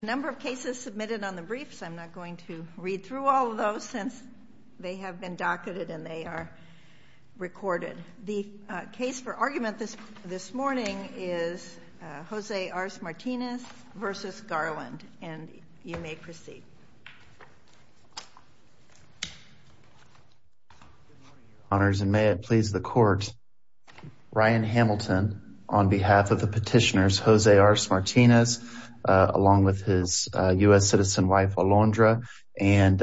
Number of cases submitted on the briefs. I'm not going to read through all of those since they have been docketed and they are recorded. The case for argument this morning is Jose Arce-Martinez v. Garland, and you may proceed. Honors, and may it please the court. Ryan Hamilton on behalf of the petitioners, Jose Arce-Martinez, along with his U.S. citizen wife, Alondra, and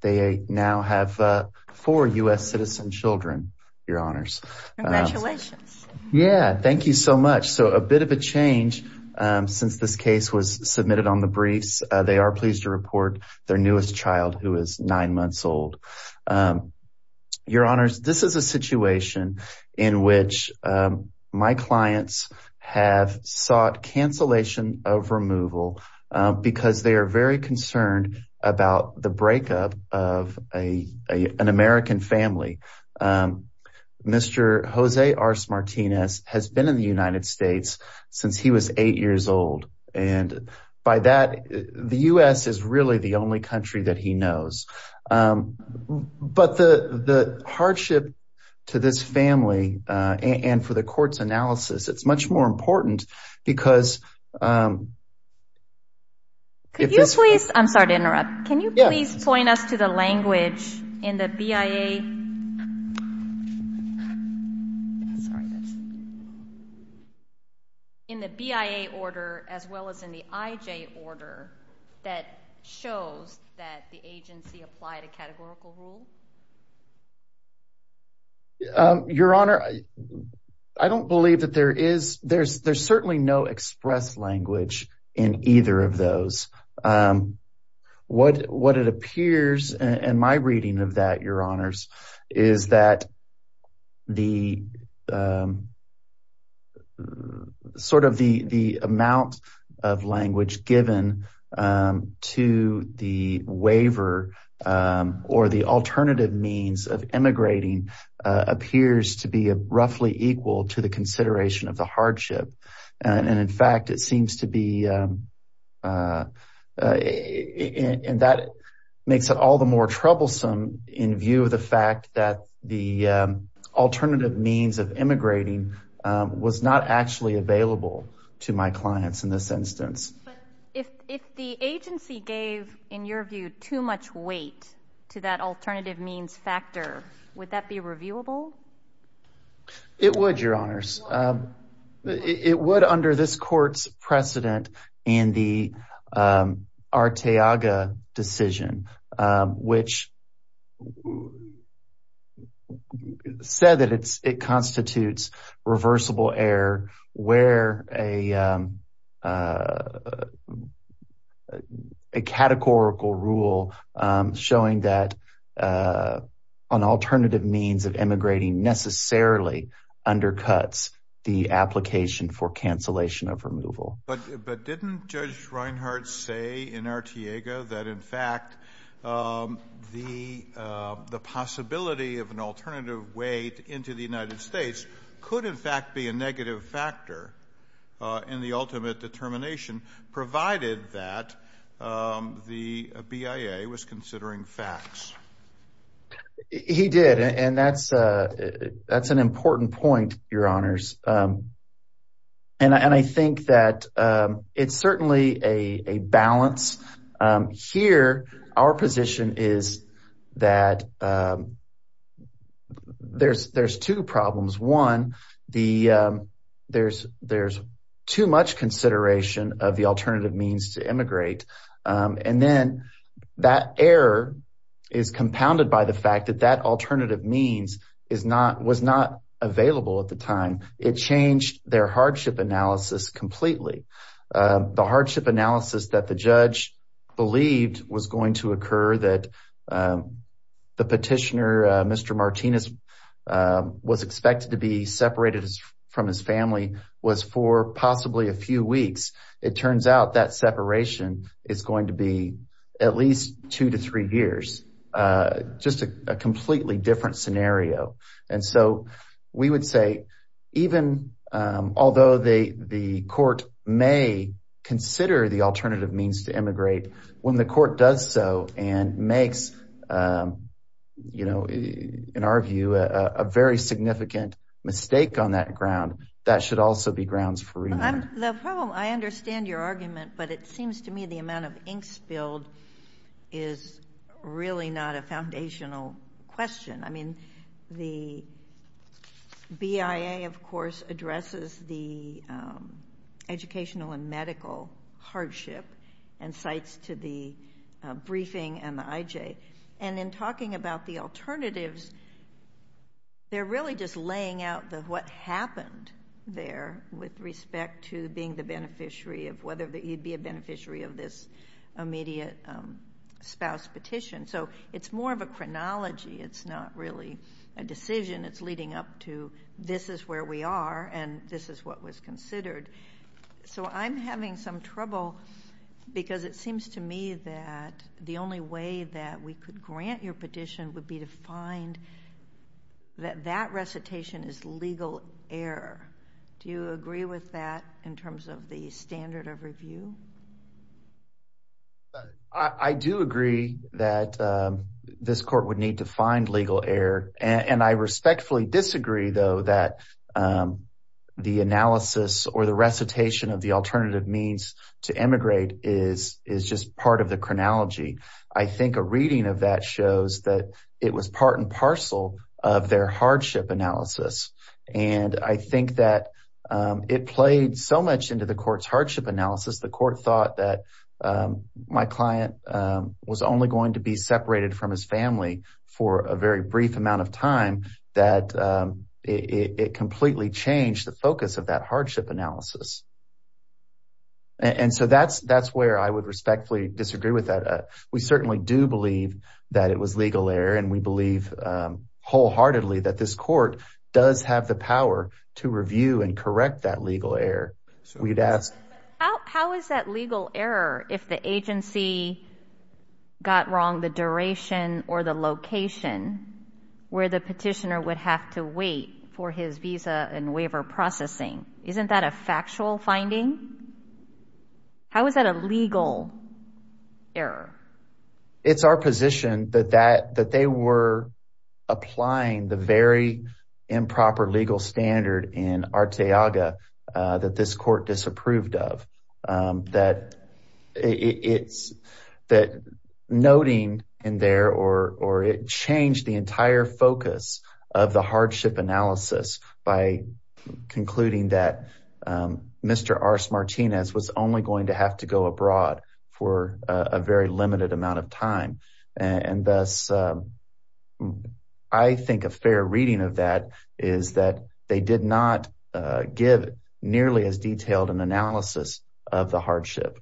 they now have four U.S. citizen children, your honors. Congratulations. Yeah. Thank you so much. So a bit of a change since this case was submitted on the briefs. They are pleased to report their newest child who is nine months old. Your honors, this is a situation in which my clients have sought cancellation of removal because they are very concerned about the breakup of an American family. Mr. Jose Arce-Martinez has been in the United States since he was eight years old. And by that, the U.S. is really the only country that he knows. But the hardship to this family and for the court's analysis, it's much more important because, um. Could you please, I'm sorry to interrupt. Can you please point us to the language in the BIA, in the BIA order, as well as in the IJ order that shows that the agency applied a categorical rule? Um, your honor, I don't believe that there is, there's, there's certainly no express language in either of those. Um, what, what it appears and my reading of that, your honors, is that the, um, sort of the, the amount of language given, um, to the waiver, um, or the alternative means of immigrating, uh, appears to be a roughly equal to the consideration of the hardship. And in fact, it seems to be, um, uh, uh, and that makes it all the more troublesome in view of the fact that the, um, alternative means of immigrating, um, was not actually available to my clients in this instance. But if, if the agency gave, in your view, too much weight to that alternative means factor, would that be reviewable? It would, your honors. Um, it would under this court's precedent and the, um, Arteaga decision, um, which would say that it's, it constitutes reversible error where a, um, uh, a categorical rule, um, showing that, uh, an alternative means of immigrating necessarily undercuts the application for cancellation of removal. But, but didn't Judge Reinhart say in Arteaga that in fact, um, the, uh, the possibility of an alternative way into the United States could in fact be a negative factor, uh, in the ultimate determination provided that, um, the BIA was considering facts? He did. And that's, uh, that's an important point, your honors. Um, and I, and I think that, um, it's certainly a, a balance. Um, here, our position is that, um, there's, there's two problems. One, the, um, there's, there's too much consideration of the alternative means to immigrate. Um, and then that error is compounded by the fact that that alternative means is not, was not available at the time. It changed their hardship analysis completely. Um, the hardship analysis that the judge believed was going to occur that, um, the petitioner, uh, Mr. Martinez, um, was expected to be separated from his family was for possibly a few weeks, it turns out that separation is going to be at least two to three years. Uh, just a completely different scenario. And so we would say, even, um, although the, the court may consider the alternative means to immigrate when the court does so and makes, um, you know, in our view, a very significant mistake on that ground, that should also be grounds for remand. I'm, the problem, I understand your argument, but it seems to me the amount of ink spilled is really not a foundational question. I mean, the BIA, of course, addresses the, um, educational and medical hardship and cites to the, uh, briefing and the IJ. And in talking about the alternatives, they're really just laying out the, what happened there with respect to being the beneficiary of whether you'd be a beneficiary of this immediate, um, spouse petition. So it's more of a chronology. It's not really a decision. It's leading up to this is where we are and this is what was considered. So I'm having some trouble because it seems to me that the only way that we could grant your petition would be to find that that recitation is legal error. Do you agree with that in terms of the standard of review? I do agree that, um, this court would need to find legal error and I respectfully disagree though, that, um, the analysis or the recitation of the alternative means to emigrate is, is just part of the chronology. I think a reading of that shows that it was part and parcel of their hardship analysis, and I think that, um, it played so much into the court's hardship analysis, the court thought that, um, my client, um, was only going to be separated from his family for a very brief amount of time that, um, it completely changed the focus of that hardship analysis. And so that's, that's where I would respectfully disagree with that. Uh, we certainly do believe that it was legal error and we believe, um, wholeheartedly that this court does have the power to review and correct that legal error. So we'd ask. How, how is that legal error if the agency got wrong, the duration or the location where the petitioner would have to wait for his visa and waiver processing? Isn't that a factual finding? How is that a legal error? It's our position that that, that they were applying the very improper legal standard in Arteaga, uh, that this court disapproved of, um, that it's, that noting in there or, or it changed the entire focus of the hardship analysis by concluding that, um, Mr. Ars Martinez was only going to have to go abroad for a very limited amount of time. And thus, um, I think a fair reading of that is that they did not, uh, give nearly as detailed an analysis of the hardship.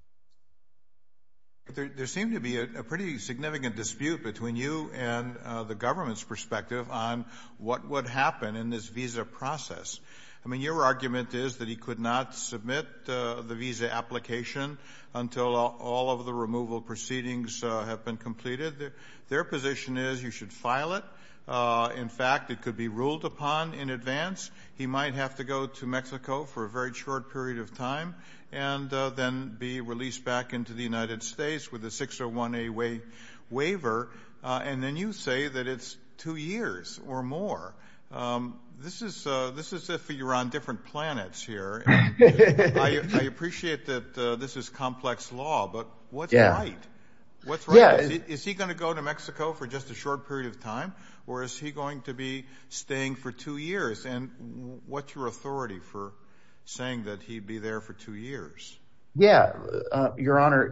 There, there seemed to be a pretty significant dispute between you and, uh, the government's perspective on what would happen in this visa process. I mean, your argument is that he could not submit, uh, the visa application until all of the removal proceedings, uh, have been completed. Their, their position is you should file it. Uh, in fact, it could be ruled upon in advance. He might have to go to Mexico for a very short period of time and, uh, then be released back into the United States with a 601A waiver, uh, and then you say that it's two years or more. Um, this is, uh, this is if you're on different planets here. I appreciate that, uh, this is complex law, but what's right? What's right? Is he going to go to Mexico for just a short period of time or is he going to be staying for two years? And what's your authority for saying that he'd be there for two years? Yeah, uh, your honor,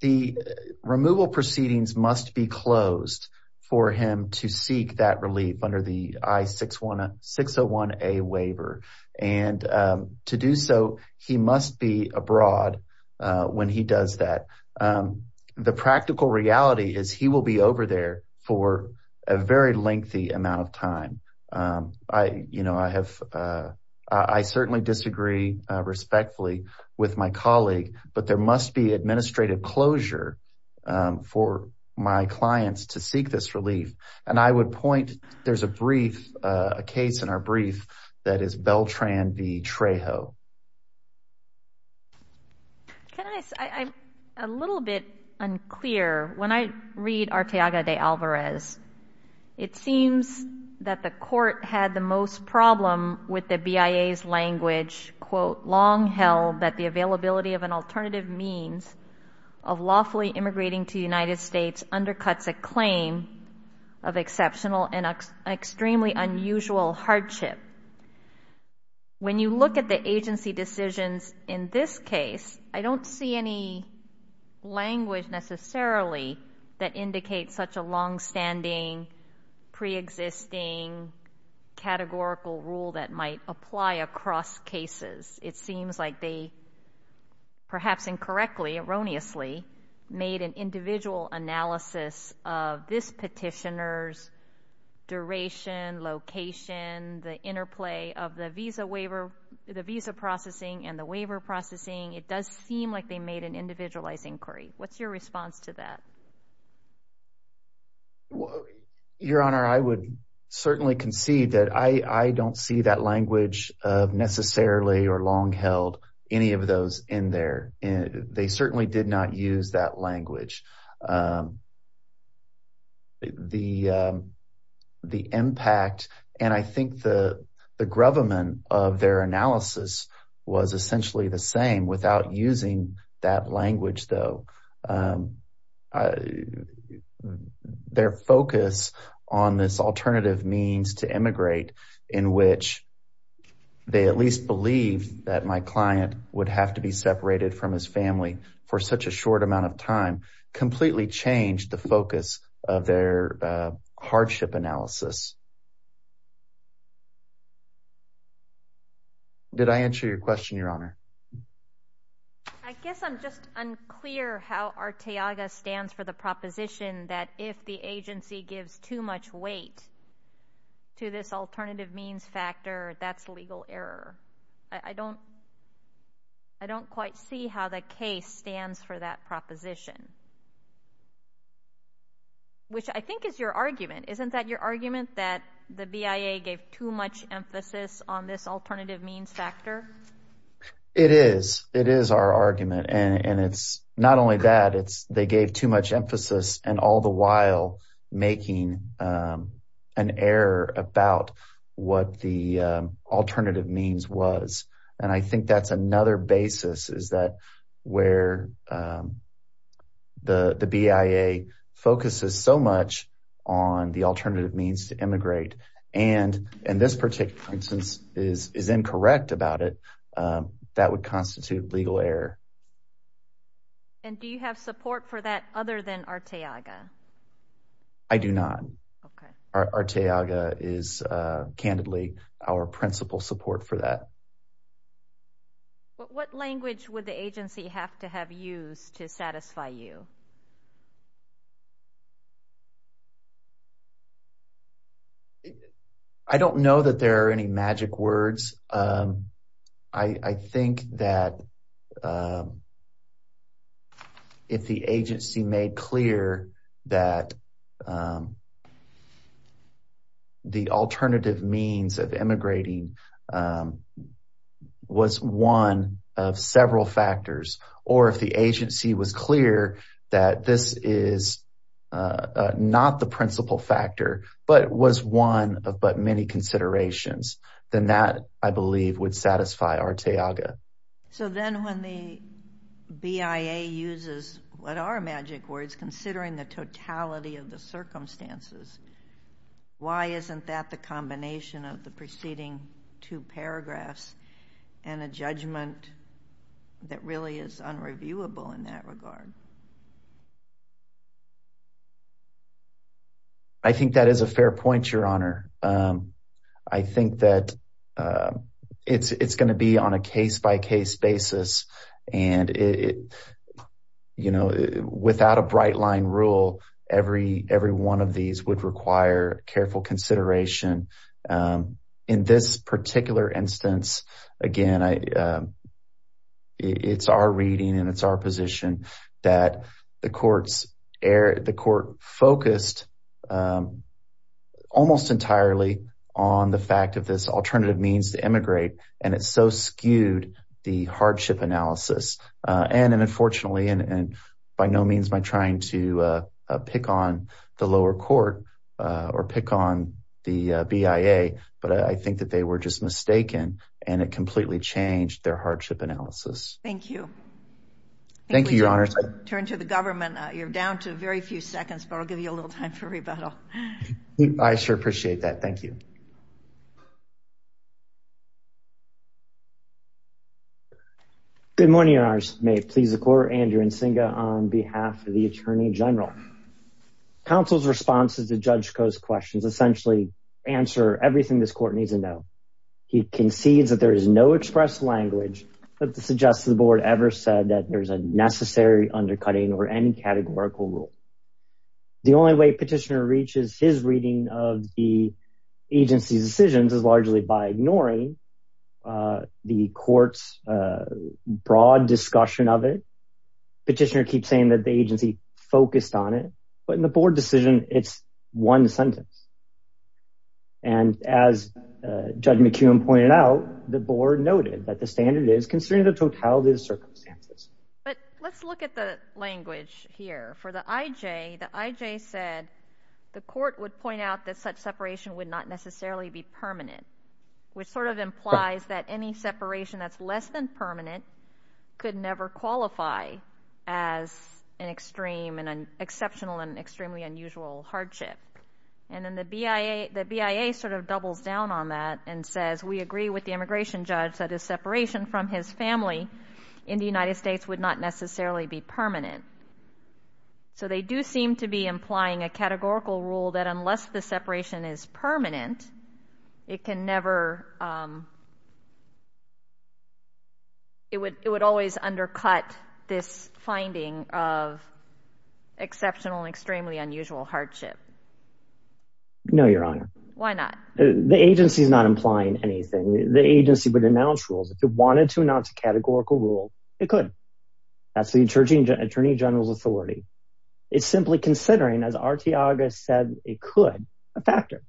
the removal proceedings must be closed for him to seek that relief under the I-601A waiver. And, um, to do so, he must be abroad, uh, when he does that. Um, the practical reality is he will be over there for a very lengthy amount of time. Um, I, you know, I have, uh, I certainly disagree respectfully with my colleague, but there must be administrative closure, um, for my clients to seek this relief. And I would point, there's a brief, uh, a case in our brief that is Beltran v. Trejo. Can I say, I'm a little bit unclear. When I read Arteaga de Alvarez, it seems that the court had the most problem with the BIA's language, quote, long held that the availability of an alternative means of lawfully immigrating to the United States undercuts a claim of exceptional and extremely unusual hardship. When you look at the agency decisions in this case, I don't see any language necessarily that indicates such a longstanding preexisting categorical rule that might apply across cases. It seems like they perhaps incorrectly, erroneously, made an individual analysis of this petitioner's duration, location, the interplay of the visa waiver, the visa processing and the waiver processing, it does seem like they made an individualized inquiry. What's your response to that? Your Honor, I would certainly concede that I don't see that language of long held, any of those in there. They certainly did not use that language. The impact, and I think the grovelman of their analysis was essentially the same without using that language though. Their focus on this alternative means to immigrate in which they at least believed that my client would have to be separated from his family for such a short amount of time, completely changed the focus of their hardship analysis. Did I answer your question, Your Honor? I guess I'm just unclear how Arteaga stands for the proposition that if the agency gives too much weight to this alternative means factor, that's legal error. I don't quite see how the case stands for that proposition, which I think is your argument. Isn't that your argument that the BIA gave too much emphasis on this alternative means factor? It is. It is our argument. Not only that, they gave too much emphasis and all the while making an error about what the alternative means was. And I think that's another basis is that where the BIA focuses so much on the alternative means to immigrate and in this particular instance is incorrect about it, that would constitute legal error. And do you have support for that other than Arteaga? I do not. Arteaga is candidly our principal support for that. But what language would the agency have to have used to satisfy you? I don't know that there are any magic words. I think that if the agency made clear that the alternative means of immigrating was one of several factors, or if the agency was clear that this is not the I believe would satisfy Arteaga. So then when the BIA uses what are magic words, considering the totality of the circumstances, why isn't that the combination of the preceding two paragraphs and a judgment that really is unreviewable in that regard? I think that is a fair point, Your Honor. I think that it's going to be on a case-by-case basis and, you know, without a bright line rule, every one of these would require careful consideration in this particular instance. Again, it's our reading and it's our position that the court focused almost entirely on the fact of this alternative means to immigrate, and it's so skewed the hardship analysis. And unfortunately, and by no means by trying to pick on the lower court or pick on the BIA, but I think that they were just mistaken and it completely changed their hardship analysis. Thank you. Thank you, Your Honor. Turn to the government. You're down to very few seconds, but I'll give you a little time for rebuttal. I sure appreciate that. Thank you. Good morning, Your Honors. May it please the court, Andrew Nsinga on behalf of the Attorney General. Counsel's responses to Judge Koh's questions essentially answer everything this court needs to know. He concedes that there is no express language that suggests the board ever said that there's a necessary undercutting or any categorical rule. The only way petitioner reaches his reading of the agency's decisions is largely by ignoring the court's broad discussion of it. Petitioner keeps saying that the agency focused on it, but in the board decision, it's one sentence. And as Judge McKeown pointed out, the board noted that the standard is considering the totality of the circumstances. But let's look at the language here. For the IJ, the IJ said the court would point out that such separation would not necessarily be permanent, which sort of implies that any separation that's less than permanent could never qualify as an exceptional and extremely unusual hardship. And then the BIA sort of doubles down on that and says, we agree with the States would not necessarily be permanent. So they do seem to be implying a categorical rule that unless the separation is permanent, it can never, um, it would, it would always undercut this finding of exceptional and extremely unusual hardship. No, Your Honor. Why not? The agency is not implying anything. The agency would announce rules. If it wanted to announce a categorical rule, it could. That's the attorney general's authority. It's simply considering, as Artiaga said, it could, a factor.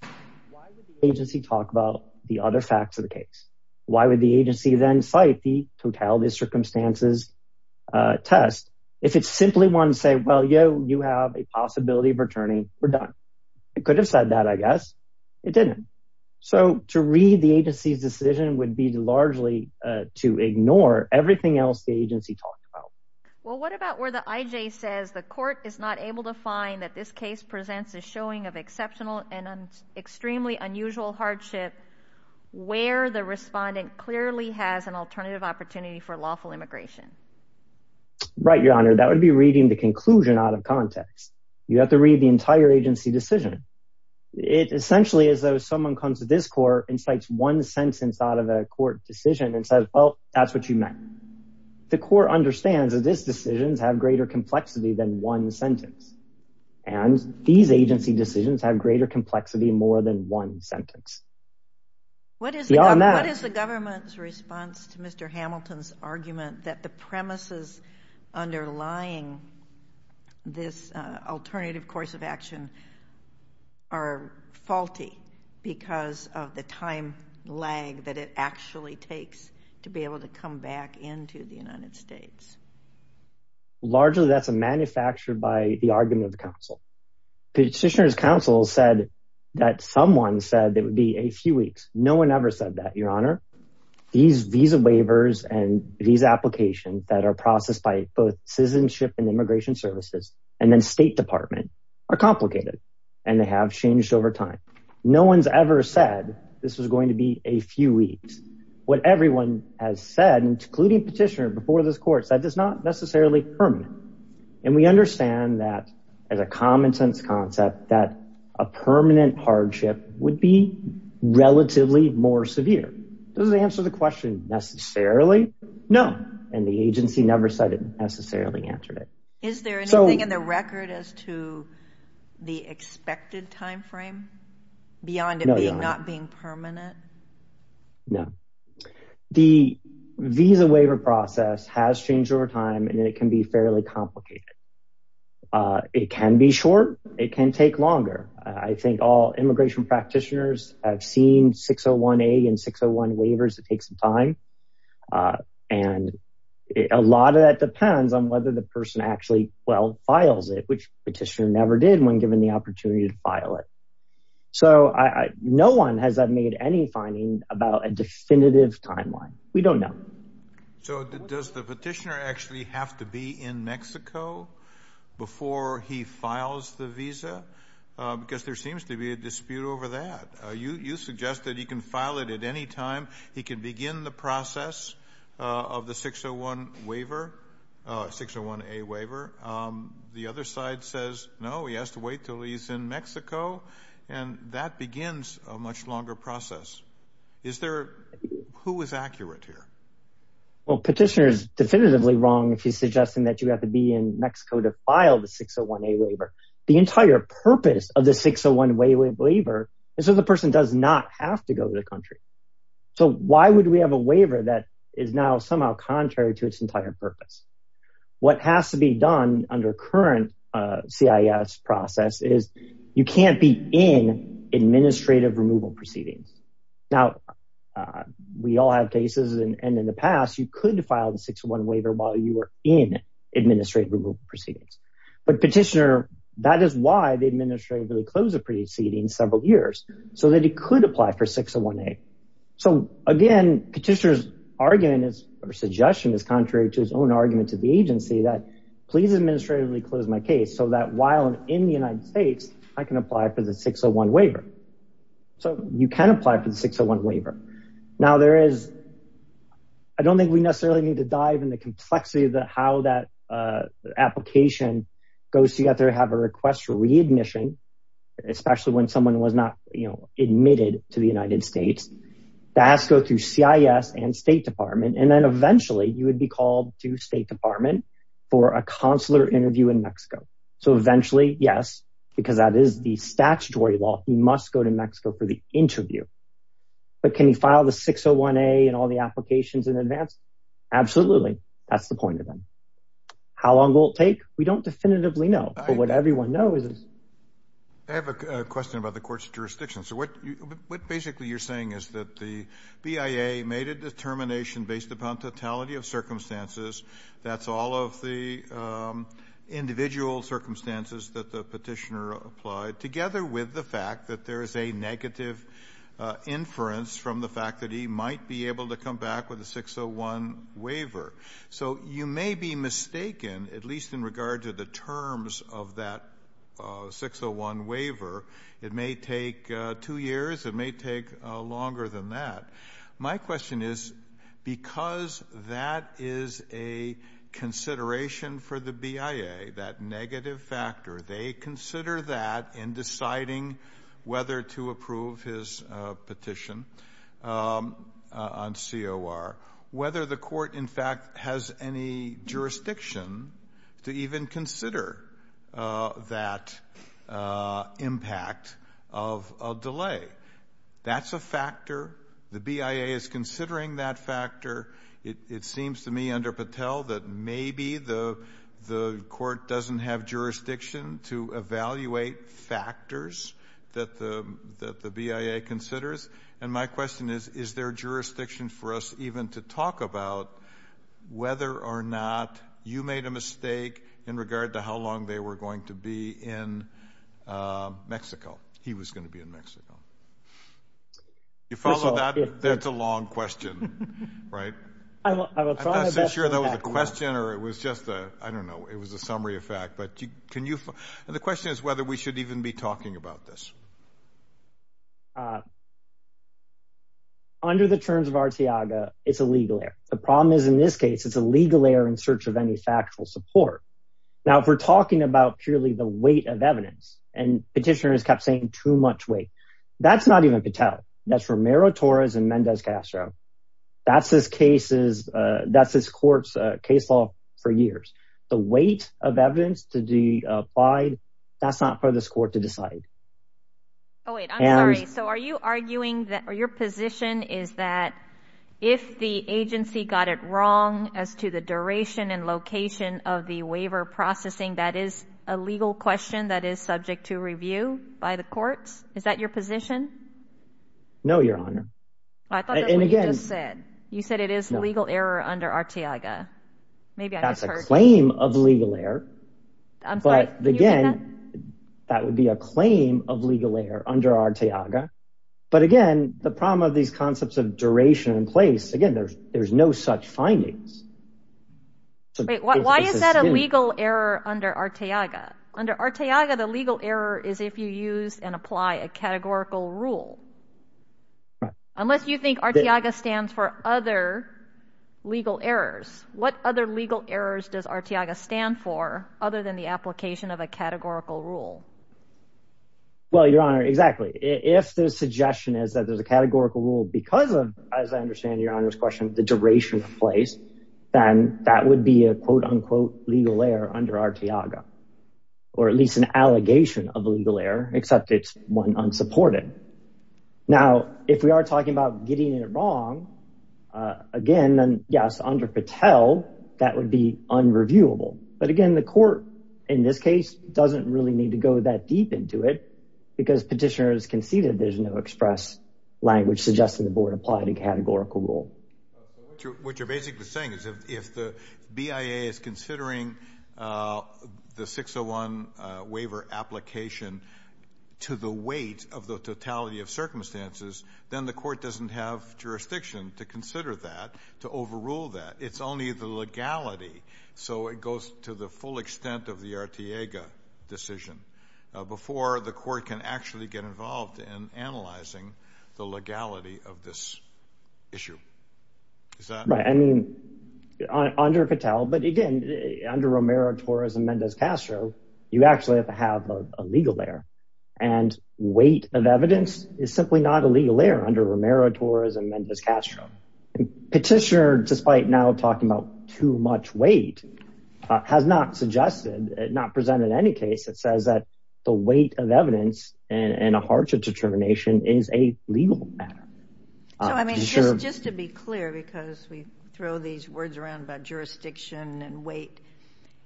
Why would the agency talk about the other facts of the case? Why would the agency then cite the totality of circumstances, uh, test? If it simply wanted to say, well, yo, you have a possibility of returning, we're done. It could have said that, I guess. It didn't. So to read the agency's decision would be largely, uh, to ignore everything else the agency talked about. Well, what about where the IJ says the court is not able to find that this case presents a showing of exceptional and extremely unusual hardship where the respondent clearly has an alternative opportunity for lawful immigration. Right. Your Honor, that would be reading the conclusion out of context. You have to read the entire agency decision. It essentially is though someone comes to this court and cites one sentence out of a court decision and says, well, that's what you meant. The court understands that this decisions have greater complexity than one sentence. And these agency decisions have greater complexity, more than one sentence. What is the government's response to Mr. Hamilton's argument that the premises underlying this alternative course of are faulty because of the time lag that it actually takes to be able to come back into the United States? Largely, that's a manufactured by the argument of the council. Petitioner's council said that someone said it would be a few weeks. No one ever said that, Your Honor. These visa waivers and visa application that are processed by both citizenship and immigration services and then state department are complicated and they have changed over time. No one's ever said this was going to be a few weeks. What everyone has said, including petitioner before this court said that's not necessarily permanent. And we understand that as a common sense concept, that a permanent hardship would be relatively more severe. Does it answer the question necessarily? No. And the agency never said it necessarily answered it. Is there anything in the record as to the expected timeframe beyond it being not being permanent? No. The visa waiver process has changed over time and it can be fairly complicated. It can be short. It can take longer. I think all immigration practitioners have seen 601A and 601 waivers. It takes some time. And a lot of that depends on whether the person actually, well, files it, which petitioner never did when given the opportunity to file it. So I, no one has made any finding about a definitive timeline. We don't know. So does the petitioner actually have to be in Mexico before he files the visa? Because there seems to be a dispute over that. You, you suggest that he can file it at any time. He can begin the process of the 601 waiver, 601A waiver. The other side says, no, he has to wait until he's in Mexico. And that begins a much longer process. Is there, who is accurate here? Well, petitioner is definitively wrong if he's suggesting that you have to be in Mexico to file the 601A waiver. The entire purpose of the 601 waiver is so the person does not have to go to the country. So why would we have a waiver that is now somehow contrary to its entire purpose? What has to be done under current CIS process is you can't be in administrative removal proceedings. Now we all have cases and in the past, you could file the 601 waiver while you were in administrative removal proceedings, but petitioner, that is why the administrator really closed the proceedings several years so that it could apply for 601A. So again, petitioner's argument is or suggestion is contrary to his own argument to the agency that please administratively close my case so that while I'm in the United States, I can apply for the 601 waiver. So you can apply for the 601 waiver. Now there is, I don't think we necessarily need to dive in the complexity of the, how that application goes to get there, have a request for readmission, especially when someone was not admitted to the United States, that has to go through CIS and state department, and then eventually you would be called to state department for a consular interview in Mexico. So eventually, yes, because that is the statutory law, he must go to Mexico for the interview. But can you file the 601A and all the applications in advance? Absolutely. That's the point of them. How long will it take? We don't definitively know, but what everyone knows is. I have a question about the court's jurisdiction. So what, what basically you're saying is that the BIA made a determination based upon totality of circumstances. That's all of the individual circumstances that the petitioner applied together with the fact that there is a negative inference from the fact that he might be able to come back with a 601 waiver. So you may be mistaken, at least in regard to the terms of that 601 waiver. It may take two years. It may take longer than that. My question is because that is a consideration for the BIA, that negative factor, they consider that in deciding whether to approve his petition on COR. Whether the court in fact has any jurisdiction to even consider that impact of a delay. That's a factor. The BIA is considering that factor. It seems to me under Patel that maybe the court doesn't have jurisdiction to evaluate factors that the BIA considers. And my question is, is there jurisdiction for us even to talk about whether or not you made a mistake in regard to how long they were going to be in Mexico? He was going to be in Mexico. You follow that? That's a long question, right? I'm not so sure that was a question or it was just a, I don't know. It was a summary of fact, but can you, and the question is whether we should even be talking about this. Under the terms of Arciaga, it's a legal error. The problem is in this case, it's a legal error in search of any factual support. Now, if we're talking about purely the weight of evidence and petitioners kept saying too much weight, that's not even Patel. That's Romero Torres and Mendez Castro. That's his cases, that's his court's case law for years. The weight of evidence to be applied, that's not for this court to decide. Oh, wait, I'm sorry. So are you arguing that your position is that if the agency got it wrong as to the duration and location of the waiver processing, that is a legal question that is subject to review by the courts? Is that your position? No, Your Honor. I thought that's what you just said. You said it is a legal error under Arciaga. That's a claim of legal error. I'm sorry, did you say that? Again, that would be a claim of legal error under Arciaga. But again, the problem of these concepts of duration and place, again, there's no such findings. Wait, why is that a legal error under Arciaga? Under Arciaga, the legal error is if you use and apply a categorical rule. Unless you think Arciaga stands for other legal errors. What other legal errors does Arciaga stand for other than the application of a categorical rule? Well, Your Honor, exactly. If the suggestion is that there's a categorical rule because of, as I understand Your Honor's question, the duration of place, then that would be a quote unquote legal error under Arciaga. Or at least an allegation of a legal error, except it's one unsupported. Now, if we are talking about getting it wrong, again, then yes, under Patel, that would be unreviewable. But again, the court in this case doesn't really need to go that deep into it because petitioners can see that there's no express language suggesting the board applied a categorical rule. What you're basically saying is if the BIA is considering the 601 waiver application to the weight of the totality of circumstances, then the court doesn't have jurisdiction to consider that, to overrule that. It's only the legality. So it goes to the full extent of the Arciaga decision before the court can actually get involved in analyzing the legality of this issue. Is that right? I mean, under Patel, but again, under Romero-Torres and Mendez-Castro, you actually have to have a legal error. And weight of evidence is simply not a legal error under Romero-Torres and Mendez-Castro. Petitioner, despite now talking about too much weight, has not suggested, not presented in any case that says that the weight of evidence and a hardship determination is a legal matter. So, I mean, just to be clear, because we throw these words around about jurisdiction and weight,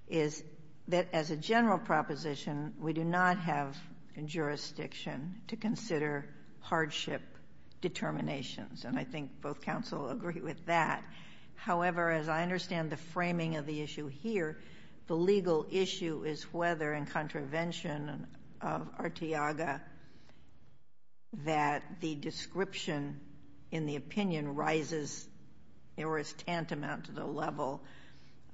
is that as a general proposition, we do not have a jurisdiction to consider hardship determinations. And I think both counsel agree with that. However, as I understand the framing of the issue here, the legal issue is whether in contravention of Arciaga that the description in the opinion rises, or is tantamount to the level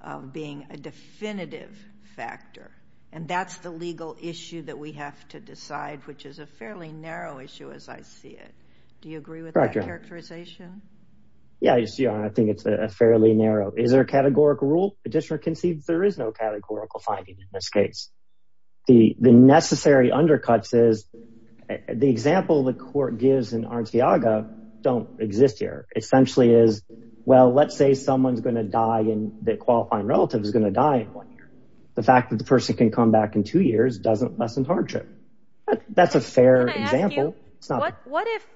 of being a definitive factor. And that's the legal issue that we have to decide, which is a fairly narrow issue as I see it. Do you agree with that? Characterization? Yeah, I think it's a fairly narrow. Is there a categorical rule? Petitioner can see there is no categorical finding in this case. The necessary undercuts is the example the court gives in Arciaga don't exist here. Essentially is, well, let's say someone's going to die and the qualifying relative is going to die in one year. The fact that the person can come back in two years doesn't lessen hardship. That's a fair example. What if,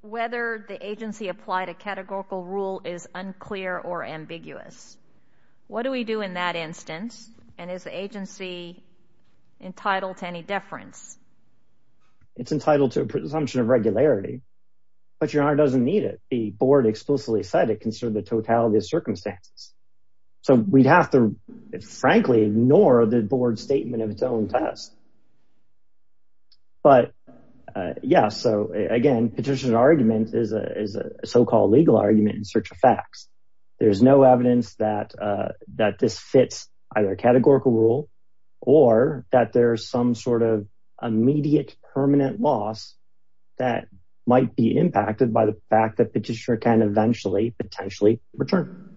whether the agency applied a categorical rule is unclear or ambiguous? What do we do in that instance? And is the agency entitled to any deference? It's entitled to a presumption of regularity, but your honor doesn't need it. The board explicitly said it considered the totality of circumstances. So we'd have to frankly ignore the board statement of its own test. But yeah, so again, petitioner argument is a, is a so-called legal argument in search of facts. There's no evidence that, that this fits either categorical rule or that there's some sort of immediate permanent loss that might be impacted by the fact that petitioner can eventually potentially return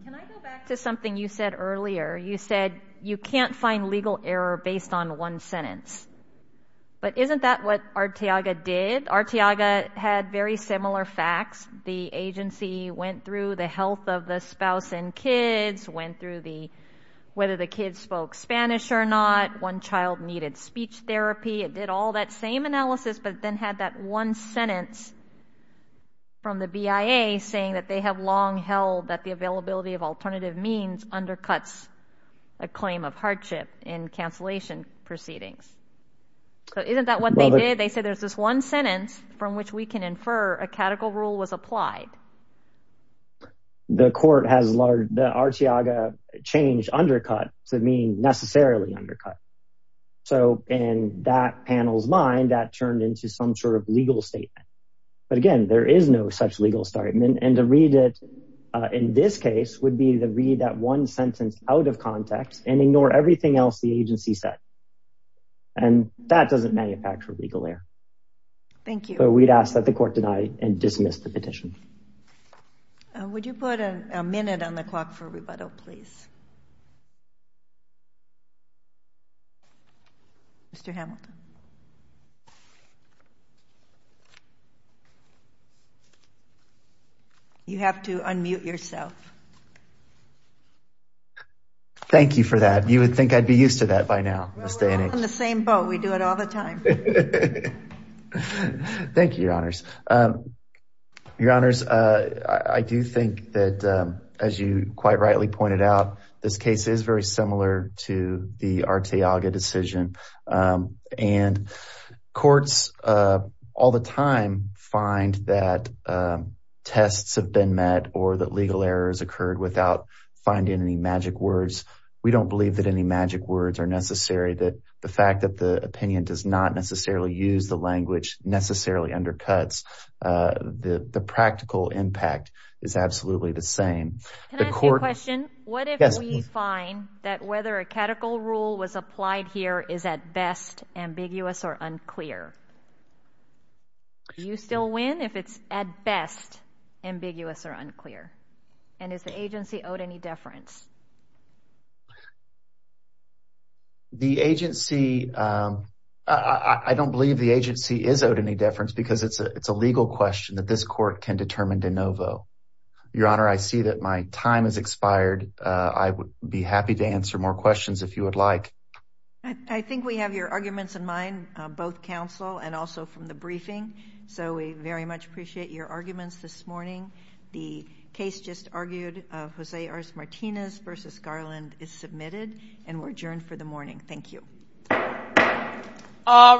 to something. You said earlier, you said you can't find legal error based on one sentence. But isn't that what Arteaga did? Arteaga had very similar facts. The agency went through the health of the spouse and kids, went through the, whether the kids spoke Spanish or not, one child needed speech therapy. It did all that same analysis, but then had that one sentence from the BIA saying that they have long held that the availability of alternative means undercuts a claim of hardship in cancellation proceedings. So isn't that what they did? They say there's this one sentence from which we can infer a categorical rule was applied. The court has large, the Arteaga change undercut to mean necessarily undercut. So in that panel's mind, that turned into some sort of legal statement. But again, there is no such legal statement. And to read it in this case would be to read that one sentence out of context and ignore everything else the agency said. And that doesn't manufacture legal error. Thank you. But we'd ask that the court deny and dismiss the petition. Would you put a minute on the clock for rebuttal, please? Mr. Hamilton. You have to unmute yourself. Thank you for that. You would think I'd be used to that by now. We're all in the same boat. We do it all the time. Thank you, your honors. Your honors, I do think that as you quite rightly pointed out, this case is very similar to the Arteaga decision and courts all the time find that tests have been met or that legal errors occurred without finding any magic words. We don't believe that any magic words are necessary. That the fact that the opinion does not necessarily use the language necessarily undercuts the practical impact is absolutely the same. Can I ask you a question? What if we find that whether a catechol rule was applied here is at best ambiguous or unclear? Do you still win if it's at best ambiguous or unclear? And is the agency owed any deference? I don't believe the agency is owed any deference because it's a legal question that this court can determine de novo. Your honor, I see that my time has expired. I would be happy to answer more questions if you would like. I think we have your arguments in mind, both counsel and also from the briefing. So we very much appreciate your arguments this morning. The case just argued of Jose Artes Martinez versus Garland is submitted and we're adjourned for the morning. Thank you. All rise.